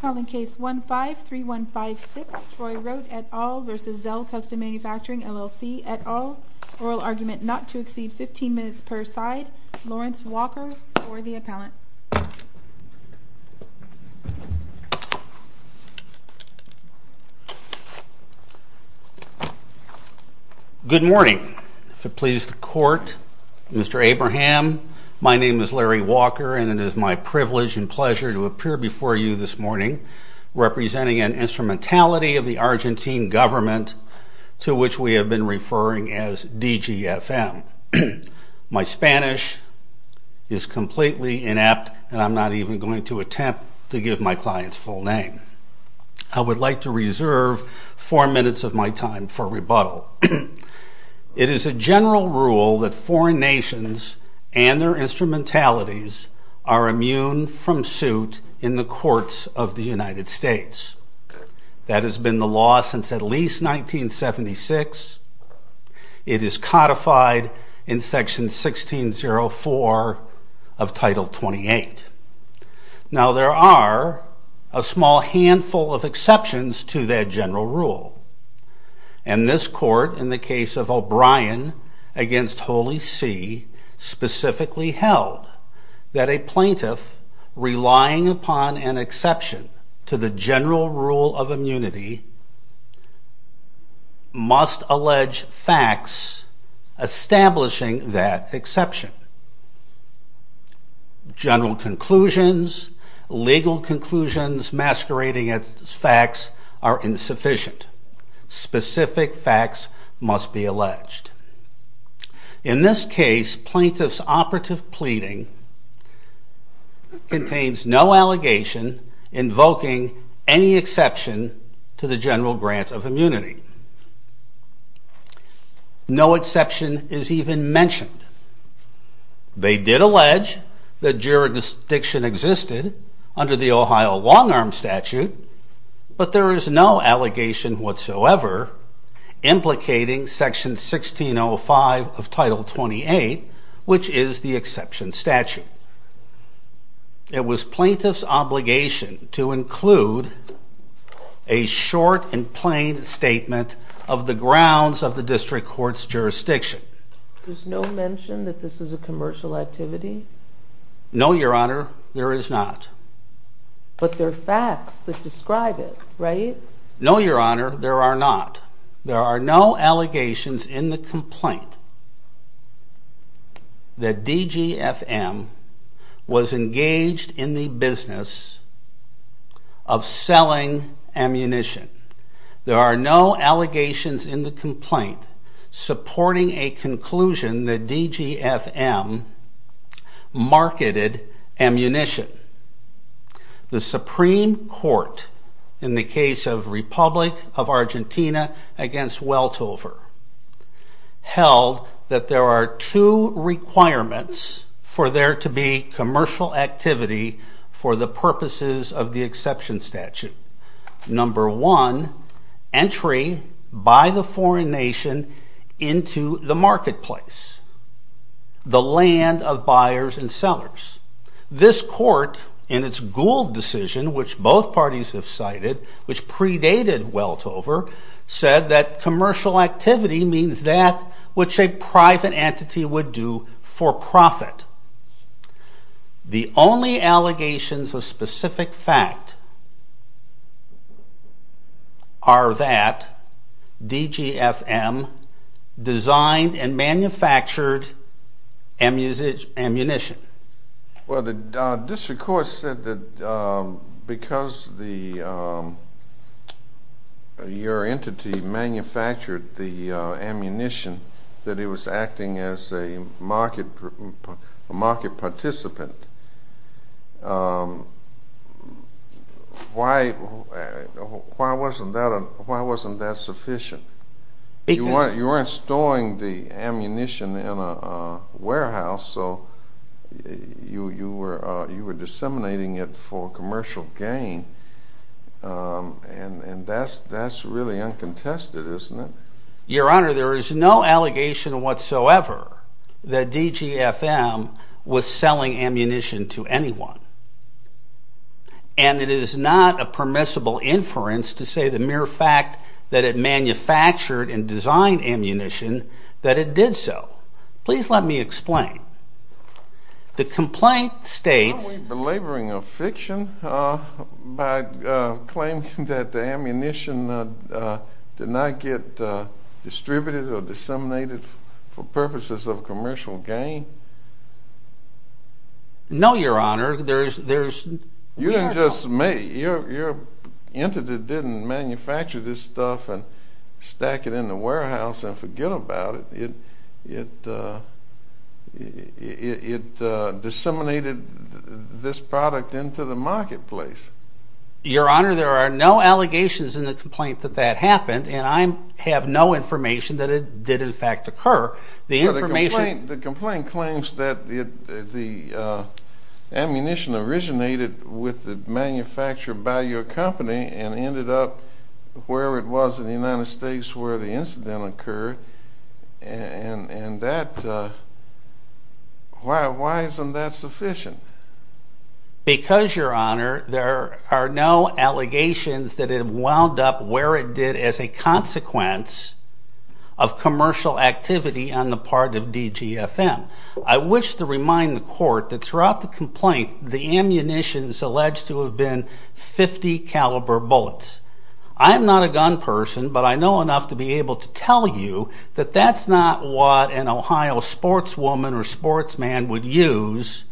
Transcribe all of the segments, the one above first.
Calling Case 15-3156 Troy Rote et al. v. Zel Custom Manufacturing LLC et al. Oral argument not to exceed 15 minutes per side. Lawrence Walker for the appellant. Good morning. If it pleases the Court, Mr. Abraham, my name is Larry Walker and it is my privilege and pleasure to appear before you this morning representing an instrumentality of the Argentine government to which we have been referring as DGFM. My Spanish is completely inept and I'm not even going to attempt to give my client's full name. I would like to reserve four minutes of my time for rebuttal. It is a general rule that foreign nations and their instrumentalities are immune from suit in the courts of the United States. That has been the law since at least 1976. It is codified in Section 1604 of Title 28. Now there are a small handful of exceptions to that general rule. And this Court, in the case of O'Brien v. Holy See, specifically held that a plaintiff relying upon an exception to the general rule of immunity must allege facts establishing that exception. General conclusions, legal conclusions masquerading as facts are insufficient. Specific facts must be alleged. In this case, plaintiff's operative pleading contains no allegation invoking any exception to the general grant of immunity. No exception is even mentioned. They did allege that jurisdiction existed under the Ohio long-arm statute, but there is no allegation whatsoever implicating Section 1605 of Title 28, which is the exception statute. It was plaintiff's obligation to include a short and plain statement of the grounds of the district court's jurisdiction. There's no mention that this is a commercial activity? No, Your Honor, there is not. But there are facts that describe it, right? No, Your Honor, there are not. There are no allegations in the complaint that DGFM was engaged in the business of selling ammunition. There are no allegations in the complaint supporting a conclusion that DGFM marketed ammunition. The Supreme Court in the case of Republic of Argentina against Weltover held that there are two requirements for there to be commercial activity for the purposes of the exception statute. Number one, entry by the foreign nation into the marketplace, the land of buyers and sellers. This court in its Gould decision, which both parties have cited, which predated Weltover, said that commercial activity means that which a private entity would do for profit. The only allegations of specific fact are that DGFM designed and manufactured ammunition. Well, the district court said that because your entity manufactured the ammunition that it was acting as a market participant. Why wasn't that sufficient? You weren't storing the ammunition in a warehouse, so you were disseminating it for commercial gain, and that's really uncontested, isn't it? Your Honor, there is no allegation whatsoever that DGFM was selling ammunition to anyone. And it is not a permissible inference to say the mere fact that it manufactured and designed ammunition that it did so. Please let me explain. The complaint states... Aren't we belaboring a fiction by claiming that the ammunition did not get distributed or disseminated for purposes of commercial gain? No, Your Honor. You didn't just make... Your entity didn't manufacture this stuff and stack it in the warehouse and forget about it. It disseminated this product into the marketplace. Your Honor, there are no allegations in the complaint that that happened, and I have no information that it did in fact occur. The information... The complaint claims that the ammunition originated with the manufacture by your company and ended up wherever it was in the United States where the incident occurred, and that... Why isn't that sufficient? Because, Your Honor, there are no allegations that it wound up where it did as a consequence of commercial activity on the part of DGFM. I wish to remind the Court that throughout the complaint, the ammunition is alleged to have been .50 caliber bullets. I am not a gun person, but I know enough to be able to tell you that that's not what an Ohio sportswoman or sportsman would use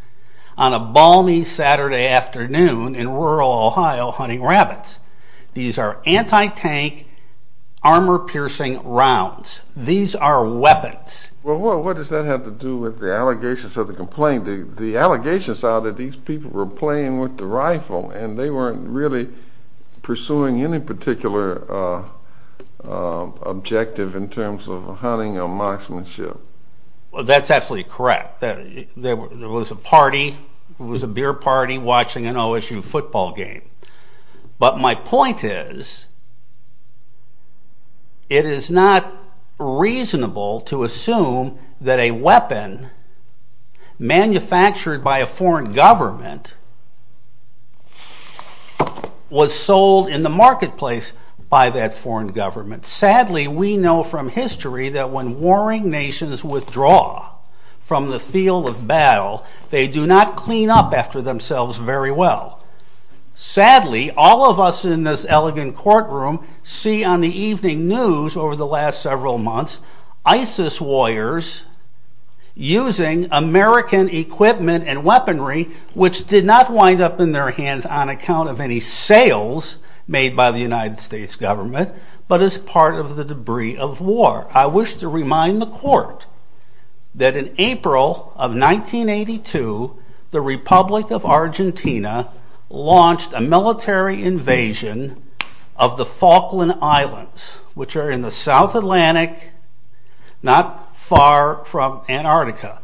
on a balmy Saturday afternoon in rural Ohio hunting rabbits. These are anti-tank armor-piercing rounds. These are weapons. Well, what does that have to do with the allegations of the complaint? The allegations are that these people were playing with the rifle and they weren't really pursuing any particular objective in terms of hunting or marksmanship. Well, that's absolutely correct. There was a party, it was a beer party watching an OSU football game. But my point is, it is not reasonable to assume that a weapon manufactured by a foreign government was sold in the marketplace by that foreign government. Sadly, we know from history that when warring nations withdraw from the field of battle, they do not clean up after themselves very well. Sadly, all of us in this elegant courtroom see on the evening news over the last several months ISIS warriors using American equipment and weaponry, which did not wind up in their hands on account of any sales made by the United States government, but as part of the debris of war. I wish to remind the court that in April of 1982, the Republic of Argentina launched a military invasion of the Falkland Islands, which are in the South Atlantic, not far from Antarctica.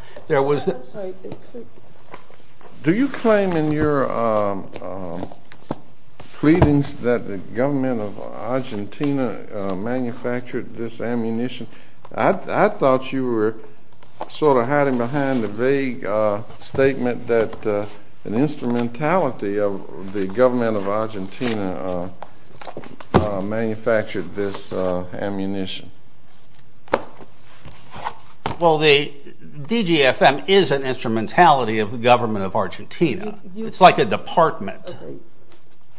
Do you claim in your pleadings that the government of Argentina manufactured this ammunition? I thought you were sort of hiding behind the vague statement that an instrumentality of the government of Argentina manufactured this ammunition. Well, the DGFM is an instrumentality of the government of Argentina. It's like a department.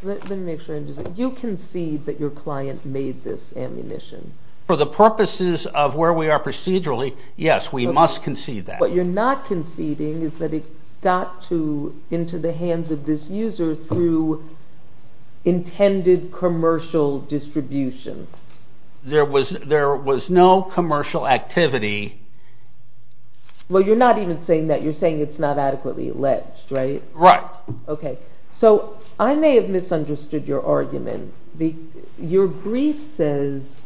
You concede that your client made this ammunition. For the purposes of where we are procedurally, yes, we must concede that. What you're not conceding is that it got into the hands of this user through intended commercial distribution. There was no commercial activity. Well, you're not even saying that. You're saying it's not adequately alleged, right? Right. Okay, so I may have misunderstood your argument. Your brief says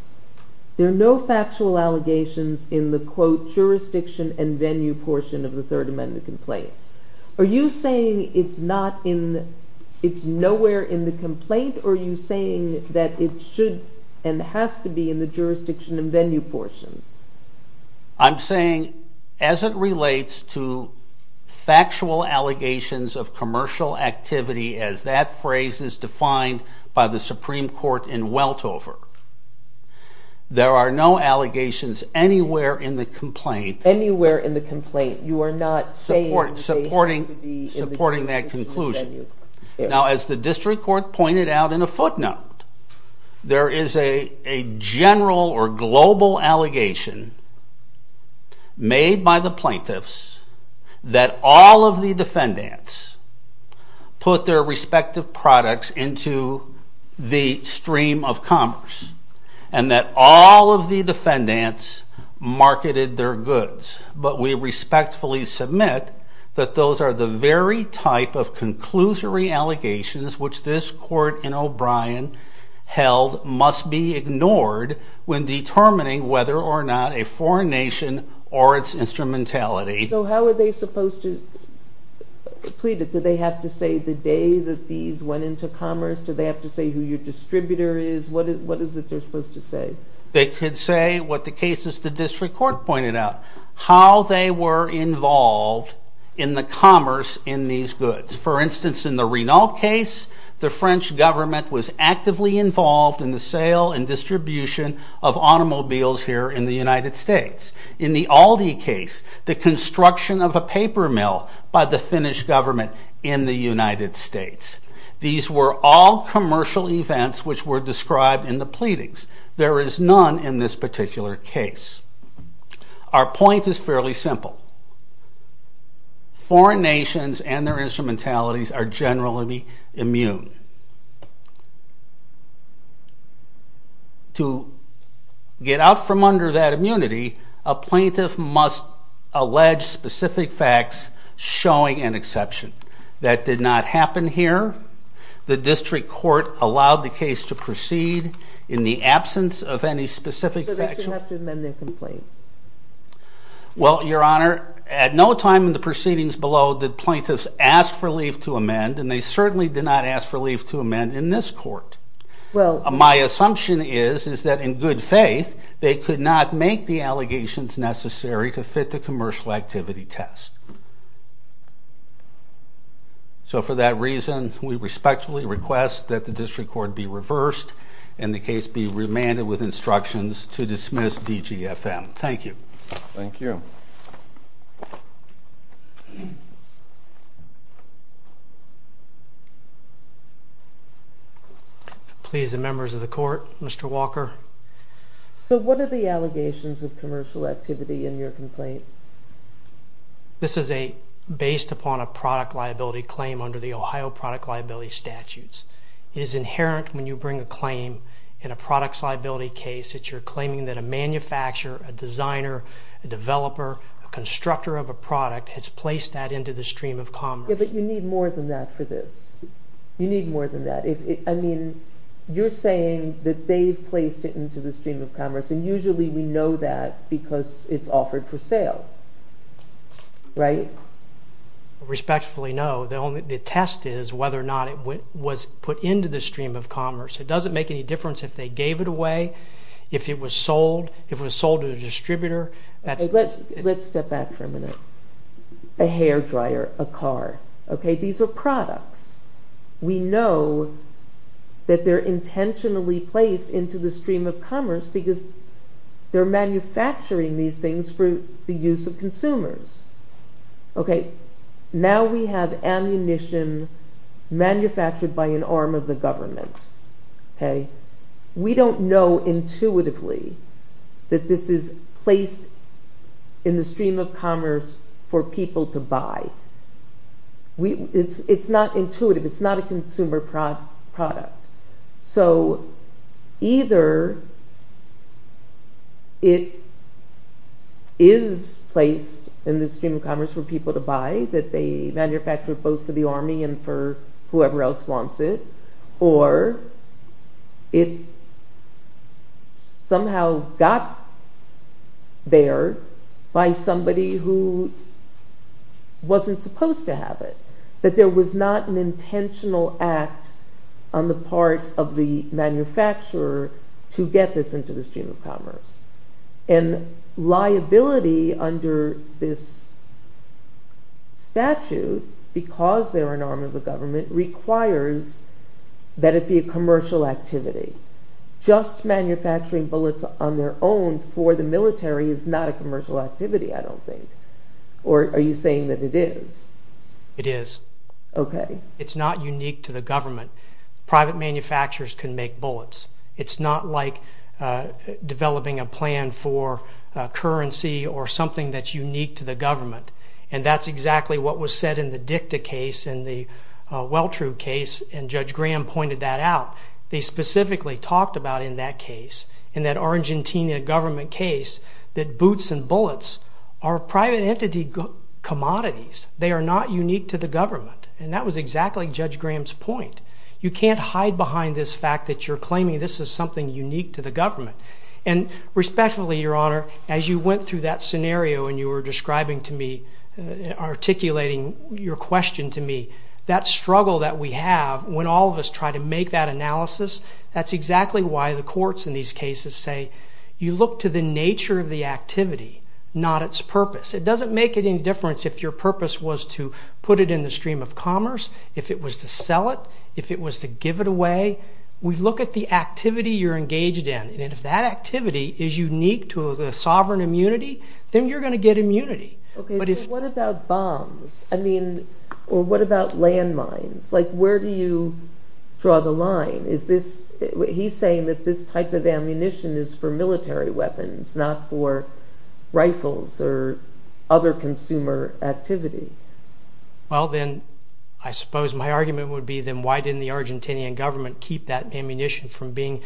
there are no factual allegations in the, quote, jurisdiction and venue portion of the Third Amendment complaint. Are you saying it's nowhere in the complaint? Or are you saying that it should and has to be in the jurisdiction and venue portion? I'm saying as it relates to factual allegations of commercial activity, as that phrase is defined by the Supreme Court in Weltover, there are no allegations anywhere in the complaint. Anywhere in the complaint. You are not saying it should be in the jurisdiction and venue portion. Now, as the district court pointed out in a footnote, there is a general or global allegation made by the plaintiffs that all of the defendants put their respective products into the stream of commerce, and that all of the defendants marketed their goods. But we respectfully submit that those are the very type of conclusory allegations which this court in O'Brien held must be ignored when determining whether or not a foreign nation or its instrumentality. So how are they supposed to plead it? Do they have to say the day that these went into commerce? Do they have to say who your distributor is? What is it they're supposed to say? They could say what the cases the district court pointed out, how they were involved in the commerce in these goods. For instance, in the Renault case, the French government was actively involved in the sale and distribution of automobiles here in the United States. In the Aldi case, the construction of a paper mill by the Finnish government in the United States. These were all commercial events which were described in the pleadings. There is none in this particular case. Our point is fairly simple. Foreign nations and their instrumentalities are generally immune. To get out from under that immunity, a plaintiff must allege specific facts showing an exception. That did not happen here. The district court allowed the case to proceed in the absence of any specific factual... So they didn't have to amend their complaint? Well, Your Honor, at no time in the proceedings below did plaintiffs ask for leave to amend, and they certainly did not ask for leave to amend in this court. My assumption is that in good faith, they could not make the allegations necessary to fit the commercial activity test. So for that reason, we respectfully request that the district court be reversed and the case be remanded with instructions to dismiss DGFM. Thank you. Thank you. Please, the members of the court, Mr. Walker. So what are the allegations of commercial activity in your complaint? This is based upon a product liability claim under the Ohio product liability statutes. It is inherent when you bring a claim in a products liability case that you're claiming that a manufacturer, a designer, a developer, a constructor of a product has placed that into the stream of commerce. Yeah, but you need more than that for this. You need more than that. I mean, you're saying that they've placed it into the stream of commerce, and usually we know that because it's offered for sale, right? Respectfully, no. The test is whether or not it was put into the stream of commerce. It doesn't make any difference if they gave it away, if it was sold, if it was sold to a distributor. Let's step back for a minute. A hair dryer, a car, okay? These are products. We know that they're intentionally placed into the stream of commerce because they're manufacturing these things for the use of consumers. Okay, now we have ammunition manufactured by an arm of the government. We don't know intuitively that this is placed in the stream of commerce for people to buy. It's not intuitive. It's not a consumer product. So either it is placed in the stream of commerce for people to buy, that they manufacture both for the Army and for whoever else wants it, or it somehow got there by somebody who wasn't supposed to have it, that there was not an intentional act on the part of the manufacturer to get this into the stream of commerce. And liability under this statute, because they're an arm of the government, requires that it be a commercial activity. Just manufacturing bullets on their own for the military is not a commercial activity, I don't think. Are you saying that it is? It is. Okay. It's not unique to the government. Private manufacturers can make bullets. It's not like developing a plan for currency or something that's unique to the government. And that's exactly what was said in the DICTA case and the Welltrue case, and Judge Graham pointed that out. They specifically talked about in that case, in that Argentina government case, that boots and bullets are private entity commodities. They are not unique to the government. And that was exactly Judge Graham's point. You can't hide behind this fact that you're claiming this is something unique to the government. And respectfully, Your Honor, as you went through that scenario and you were describing to me, articulating your question to me, that struggle that we have when all of us try to make that analysis, that's exactly why the courts in these cases say, you look to the nature of the activity, not its purpose. It doesn't make any difference if your purpose was to put it in the stream of commerce, if it was to sell it, if it was to give it away. We look at the activity you're engaged in, and if that activity is unique to the sovereign immunity, then you're going to get immunity. What about bombs? Or what about landmines? Where do you draw the line? He's saying that this type of ammunition is for military weapons, not for rifles or other consumer activity. Well, then, I suppose my argument would be, then why didn't the Argentinian government keep that ammunition from being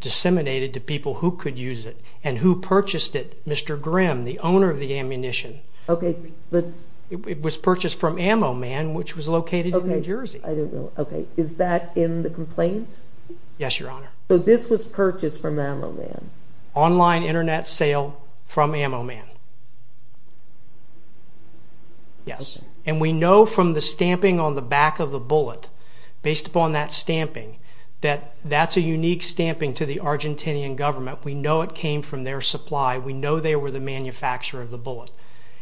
disseminated to people who could use it? And who purchased it? Mr. Grimm, the owner of the ammunition. It was purchased from Ammo Man, which was located in New Jersey. Is that in the complaint? Yes, Your Honor. So this was purchased from Ammo Man? Online Internet sale from Ammo Man. And we know from the stamping on the back of the bullet, based upon that stamping, that that's a unique stamping to the Argentinian government. We know it came from their supply. We know they were the manufacturer of the bullet.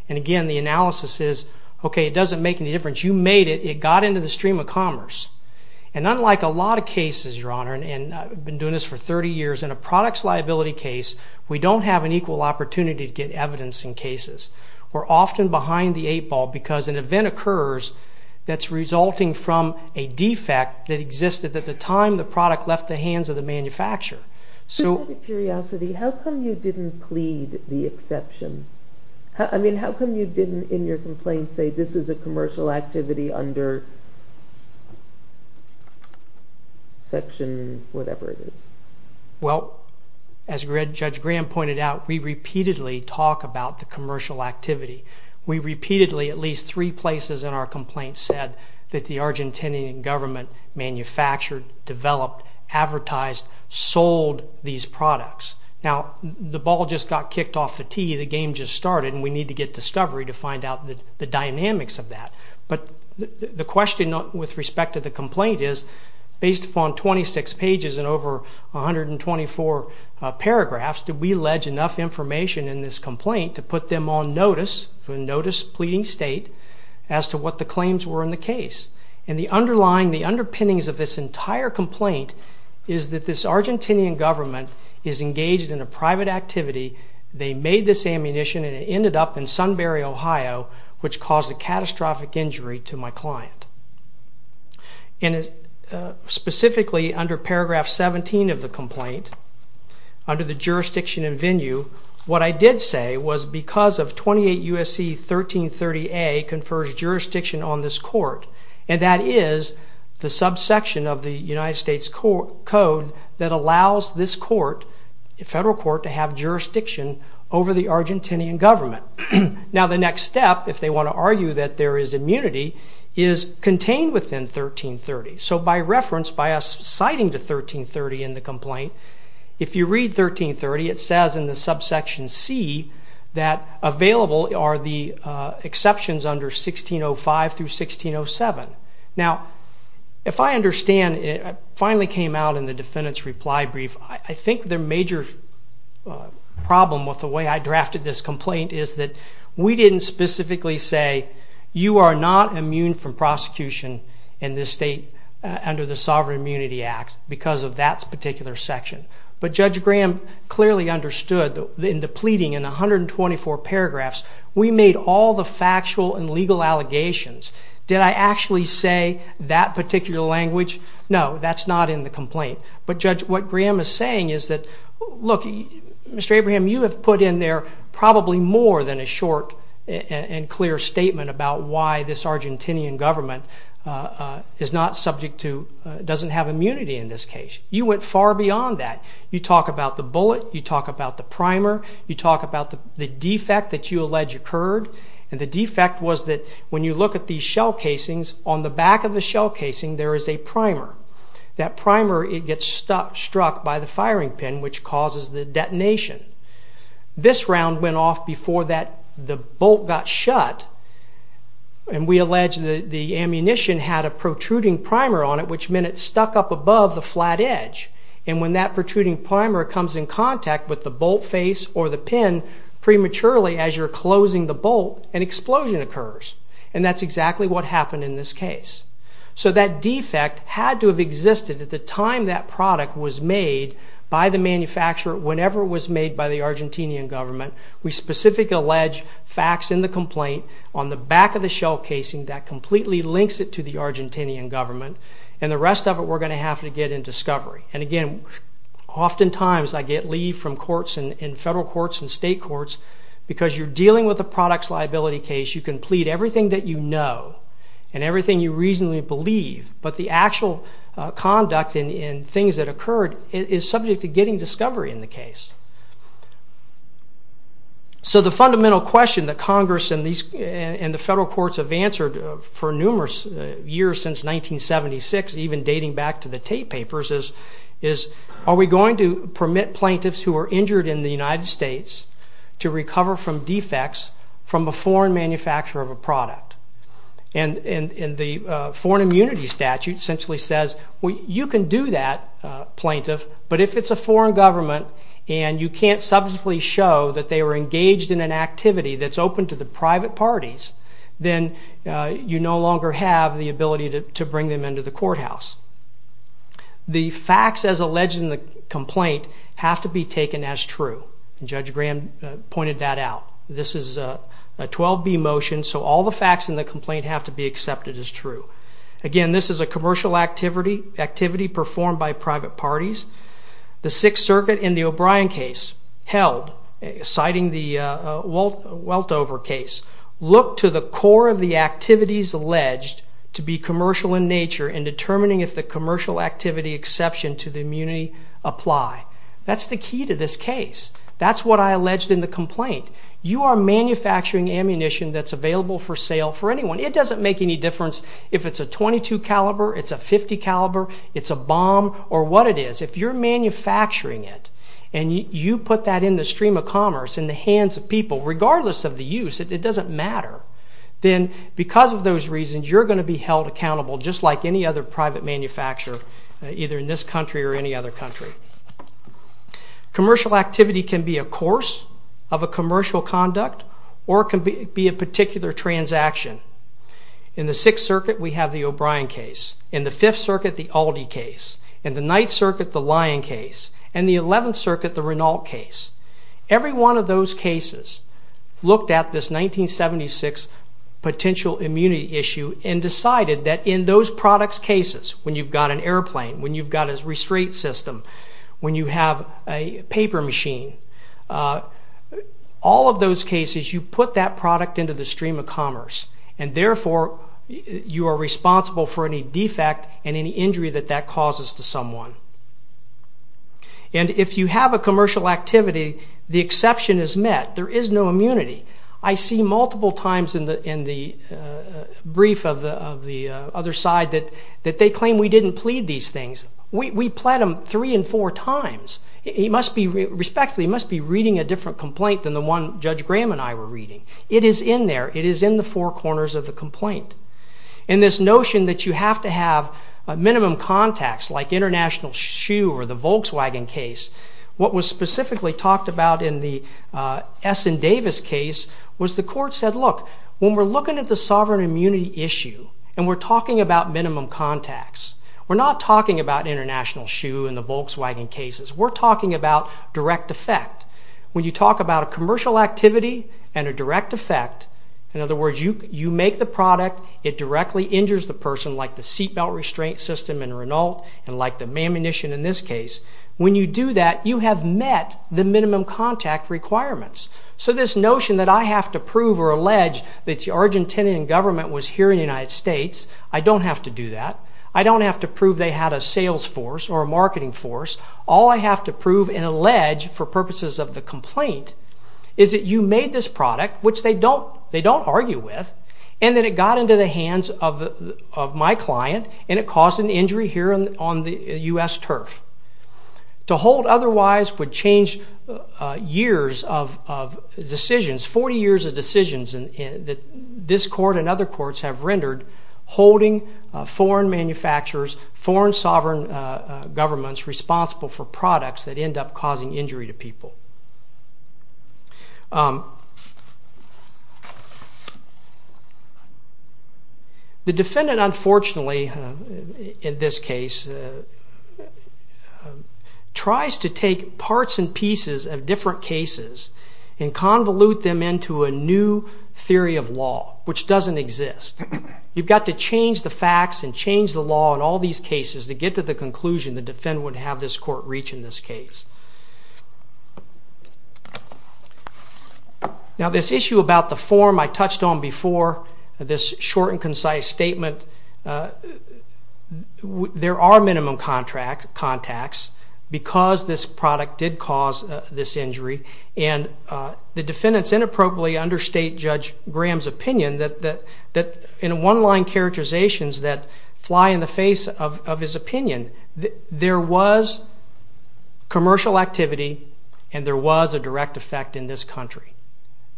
And again, the analysis is, okay, it doesn't make any difference. You made it. It got into the stream of commerce. And unlike a lot of cases, Your Honor, and I've been doing this for 30 years, in a products liability case, we don't have an equal opportunity to get evidence in cases. We're often behind the eight ball because an event occurs that's resulting from a defect that existed at the time the product left the hands of the manufacturer. Out of curiosity, how come you didn't plead the exception? I mean, how come you didn't, in your complaint, say this is a commercial activity under section whatever it is? Well, as Judge Graham pointed out, we repeatedly talk about the commercial activity. We repeatedly, at least three places in our complaint, said that the Argentinian government manufactured, developed, advertised, sold these products. Now, the ball just got kicked off the tee. The game just started, and we need to get discovery to find out the dynamics of that. But the question with respect to the complaint is, based upon 26 pages and over 124 paragraphs, did we allege enough information in this complaint to put them on notice, notice pleading state, as to what the claims were in the case? And the underlying, the underpinnings of this entire complaint is that this Argentinian government is engaged in a private activity. They made this ammunition, and it ended up in Sunbury, Ohio, which caused a catastrophic injury to my client. And specifically, under paragraph 17 of the complaint, under the jurisdiction and venue, what I did say was because of 28 U.S.C. 1330A confers jurisdiction on this court, and that is the subsection of the United States Code that allows this court, federal court, to have jurisdiction over the Argentinian government. Now, the next step, if they want to argue that there is immunity, is contained within 1330. So by reference, by us citing the 1330 in the complaint, if you read 1330, it says in the subsection C that available are the exceptions under 1605 through 1607. Now, if I understand, it finally came out in the defendant's reply brief, I think their major problem with the way I drafted this complaint is that we didn't specifically say, you are not immune from prosecution in this state under the Sovereign Immunity Act because of that particular section. But Judge Graham clearly understood in the pleading, in 124 paragraphs, we made all the factual and legal allegations. Did I actually say that particular language? No, that's not in the complaint. But Judge, what Graham is saying is that, look, Mr. Abraham, you have put in there probably more than a short and clear statement about why this Argentinian government is not subject to, doesn't have immunity in this case. You went far beyond that. You talk about the bullet, you talk about the primer, you talk about the defect that you allege occurred, and the defect was that when you look at these shell casings, on the back of the shell casing there is a primer. That primer, it gets struck by the firing pin, which causes the detonation. This round went off before the bolt got shut, and we allege the ammunition had a protruding primer on it, which meant it stuck up above the flat edge, and when that protruding primer comes in contact with the bolt face or the pin prematurely as you're closing the bolt, an explosion occurs, and that's exactly what happened in this case. So that defect had to have existed at the time that product was made by the manufacturer whenever it was made by the Argentinian government. We specifically allege facts in the complaint on the back of the shell casing that completely links it to the Argentinian government, and the rest of it we're going to have to get in discovery. And again, oftentimes I get leave from courts and federal courts and state courts, because you're dealing with a products liability case, you can plead everything that you know and everything you reasonably believe, but the actual conduct and things that occurred is subject to getting discovery in the case. So the fundamental question that Congress and the federal courts have answered for numerous years since 1976, even dating back to the Tate papers, is are we going to permit plaintiffs who are injured in the United States to recover from defects from a foreign manufacturer of a product? And the foreign immunity statute essentially says, you can do that, plaintiff, but if it's a foreign government and you can't subjectively show that they were engaged in an activity that's open to the private parties, then you no longer have the ability to bring them into the courthouse. The facts as alleged in the complaint have to be taken as true, and Judge Graham pointed that out. This is a 12B motion, so all the facts in the complaint have to be accepted as true. Again, this is a commercial activity performed by private parties. The Sixth Circuit in the O'Brien case held, citing the Weltover case, looked to the core of the activities alleged to be commercial in nature in determining if the commercial activity exception to the immunity apply. That's the key to this case. That's what I alleged in the complaint. You are manufacturing ammunition that's available for sale for anyone. It doesn't make any difference if it's a .22 caliber, it's a .50 caliber, it's a bomb, or what it is. If you're manufacturing it and you put that in the stream of commerce, in the hands of people, regardless of the use, it doesn't matter, then because of those reasons, you're going to be held accountable, just like any other private manufacturer, either in this country or any other country. Commercial activity can be a course of a commercial conduct, or it can be a particular transaction. In the Sixth Circuit, we have the O'Brien case. In the Fifth Circuit, the Aldi case. In the Ninth Circuit, the Lyon case. In the Eleventh Circuit, the Renault case. Every one of those cases looked at this 1976 potential immunity issue and decided that in those product cases, when you've got an airplane, when you've got a restraint system, when you have a paper machine, all of those cases, you put that product into the stream of commerce, and therefore, you are responsible for any defect and any injury that that causes to someone. And if you have a commercial activity, the exception is met. There is no immunity. I see multiple times in the brief of the other side that they claim we didn't plead these things. We plead them three and four times. He must be, respectfully, he must be reading a different complaint than the one Judge Graham and I were reading. It is in there. It is in the four corners of the complaint. And this notion that you have to have minimum contacts, like International Shoe or the Volkswagen case, what was specifically talked about in the Essendavis case was the court said, look, when we're looking at the sovereign immunity issue and we're talking about minimum contacts, we're not talking about International Shoe and the Volkswagen cases. We're talking about direct effect. When you talk about a commercial activity and a direct effect, in other words, you make the product, it directly injures the person, like the seatbelt restraint system and Renault, and like the ammunition in this case, when you do that, you have met the minimum contact requirements. So this notion that I have to prove or allege that the Argentinian government was here in the United States, I don't have to do that. I don't have to prove they had a sales force or a marketing force. All I have to prove and allege for purposes of the complaint is that you made this product, which they don't argue with, and that it got into the hands of my client and it caused an injury here on the U.S. turf. To hold otherwise would change years of decisions, 40 years of decisions that this court and other courts have rendered holding foreign manufacturers, foreign sovereign governments responsible for products that end up causing injury to people. The defendant, unfortunately, in this case, tries to take parts and pieces of different cases and convolute them into a new theory of law which doesn't exist. You've got to change the facts and change the law in all these cases to get to the conclusion the defendant would have this court reach in this case. Now this issue about the form I touched on before, this short and concise statement, there are minimum contacts because this product did cause this injury and the defendants inappropriately understate Judge Graham's opinion that in one-line characterizations that fly in the face of his opinion, there was commercial activity and there was a direct effect in this country.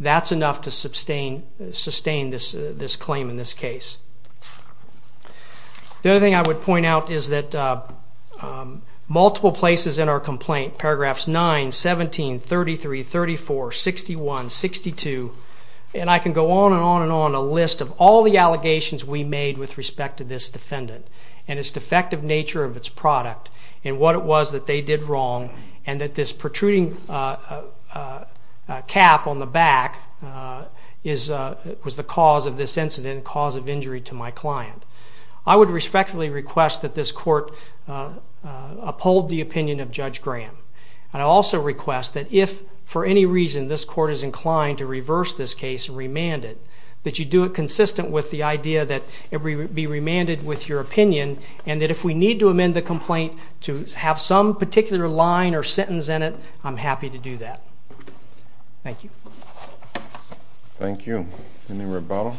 That's enough to sustain this claim in this case. The other thing I would point out is that multiple places in our complaint, paragraphs 9, 17, 33, 34, 61, 62, and I can go on and on and on a list of all the allegations we made with respect to this defendant and its defective nature of its product and what it was that they did wrong and that this protruding cap on the back was the cause of this incident and cause of injury to my client. I would respectfully request that this court uphold the opinion of Judge Graham. I also request that if for any reason this court is inclined to reverse this case and remand it, that you do it consistent with the idea that it would be remanded with your opinion and that if we need to amend the complaint to have some particular line or sentence in it, I'm happy to do that. Thank you. Thank you. Any rebuttal?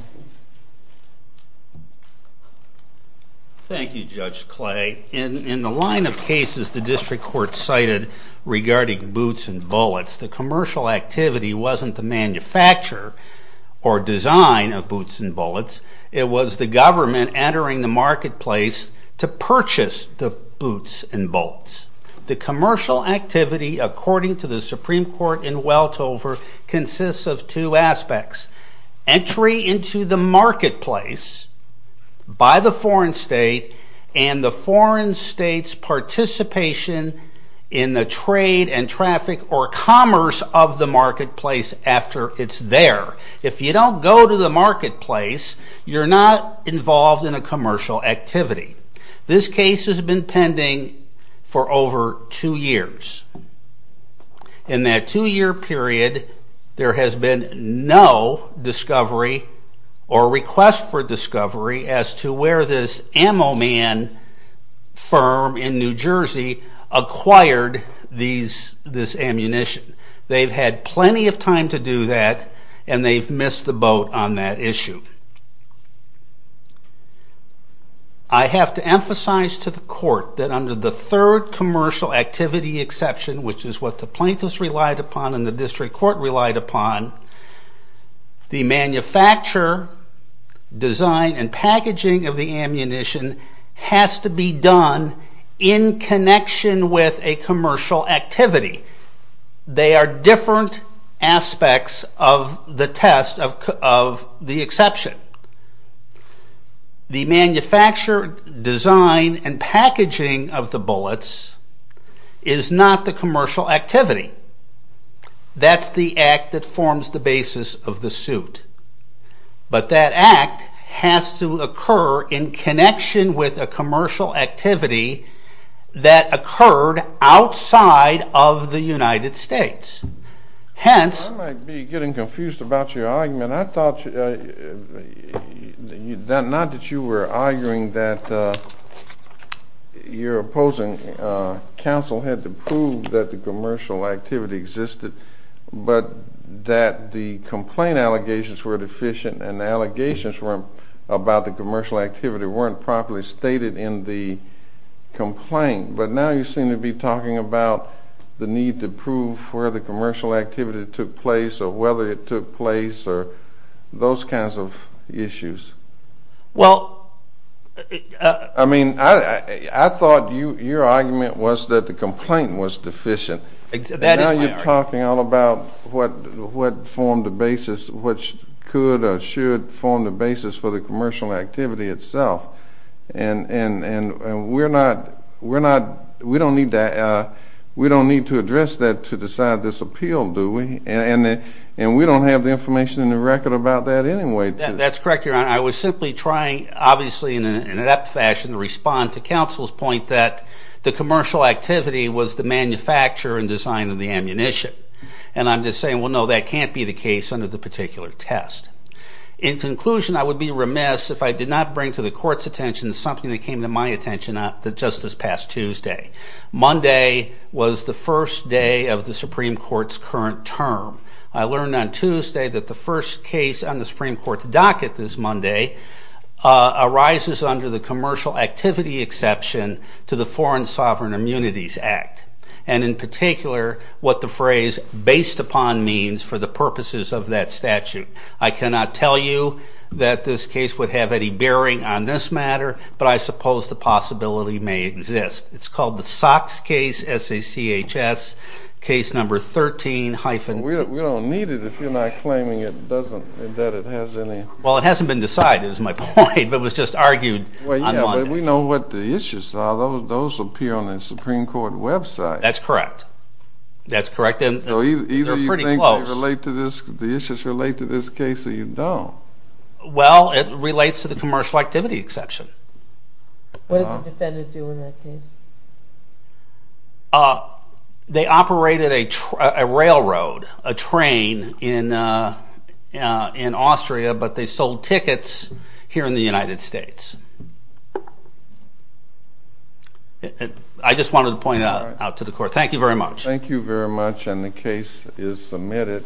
Thank you, Judge Clay. In the line of cases the district court cited regarding boots and bullets, the commercial activity wasn't the manufacture or design of boots and bullets, it was the government entering the marketplace to purchase the boots and bullets. The commercial activity, according to the Supreme Court in Weltover, consists of two aspects. Entry into the marketplace by the foreign state and the foreign state's participation in the trade and traffic or commerce of the marketplace after it's there. If you don't go to the marketplace, you're not involved in a commercial activity. This case has been pending for over two years. In that two year period, there has been no discovery or request for discovery as to where this ammo man firm in New Jersey acquired this ammunition. They've had plenty of time to do that and they've missed the boat on that issue. I have to emphasize to the court that under the third commercial activity exception, which is what the plaintiffs relied upon and the district court relied upon, the manufacture, design, and packaging of the ammunition has to be done in connection with a commercial activity. They are different aspects of the test of the exception. The manufacture, design, and packaging of the bullets is not the commercial activity. That's the act that forms the basis of the suit. But that act has to occur in connection with a commercial activity that occurred outside of the United States. Hence... I might be getting confused about your argument. I thought not that you were arguing that your opposing counsel had to prove that the commercial activity existed but that the complaint allegations were deficient and the allegations about the commercial activity weren't properly stated in the complaint. But now you seem to be talking about the need to prove where the commercial activity took place or whether it took place or those kinds of issues. Well... I mean... I thought your argument was that the complaint was deficient. Now you're talking all about what formed the basis which could or should form the basis for the commercial activity itself. And we're not... We don't need to... We don't need to address that to decide this appeal, do we? And we don't have the information in the record about that anyway. That's correct, Your Honor. I was simply trying, obviously, in an apt fashion to respond to counsel's point that the commercial activity was the manufacture and design of the ammunition. And I'm just saying, well no, that can't be the case under the particular test. In conclusion, I would be remiss if I did not bring to the Court's attention something that came to my attention just this past Tuesday. Monday was the first day of the Supreme Court's current term. I learned on Tuesday that the first case on the Supreme Court's docket this Monday arises under the commercial activity exception to the Foreign Sovereign Immunities Act. And in particular what the phrase based upon means for the purposes of that statute. I cannot tell you that this case would have any bearing on this matter, but I suppose the possibility may exist. It's called the Sox case, S-A-C-H-S, case number 13-2. We don't need it if you're not claiming it doesn't, that it has any... Well, it hasn't been decided is my point, but it was just argued on Monday. Well, yeah, but we know what the issues are. Those appear on the Supreme Court website. That's correct. That's correct, and they're pretty close. So either you think they relate to this, the issues relate to this case, or you don't. Well, it relates to the commercial activity exception. What did the defendants do in that case? They operated a railroad, a train in Austria, but they sold tickets here in the United States. I just wanted to point that out to the Court. Thank you very much. Thank you very much, and the case is submitted.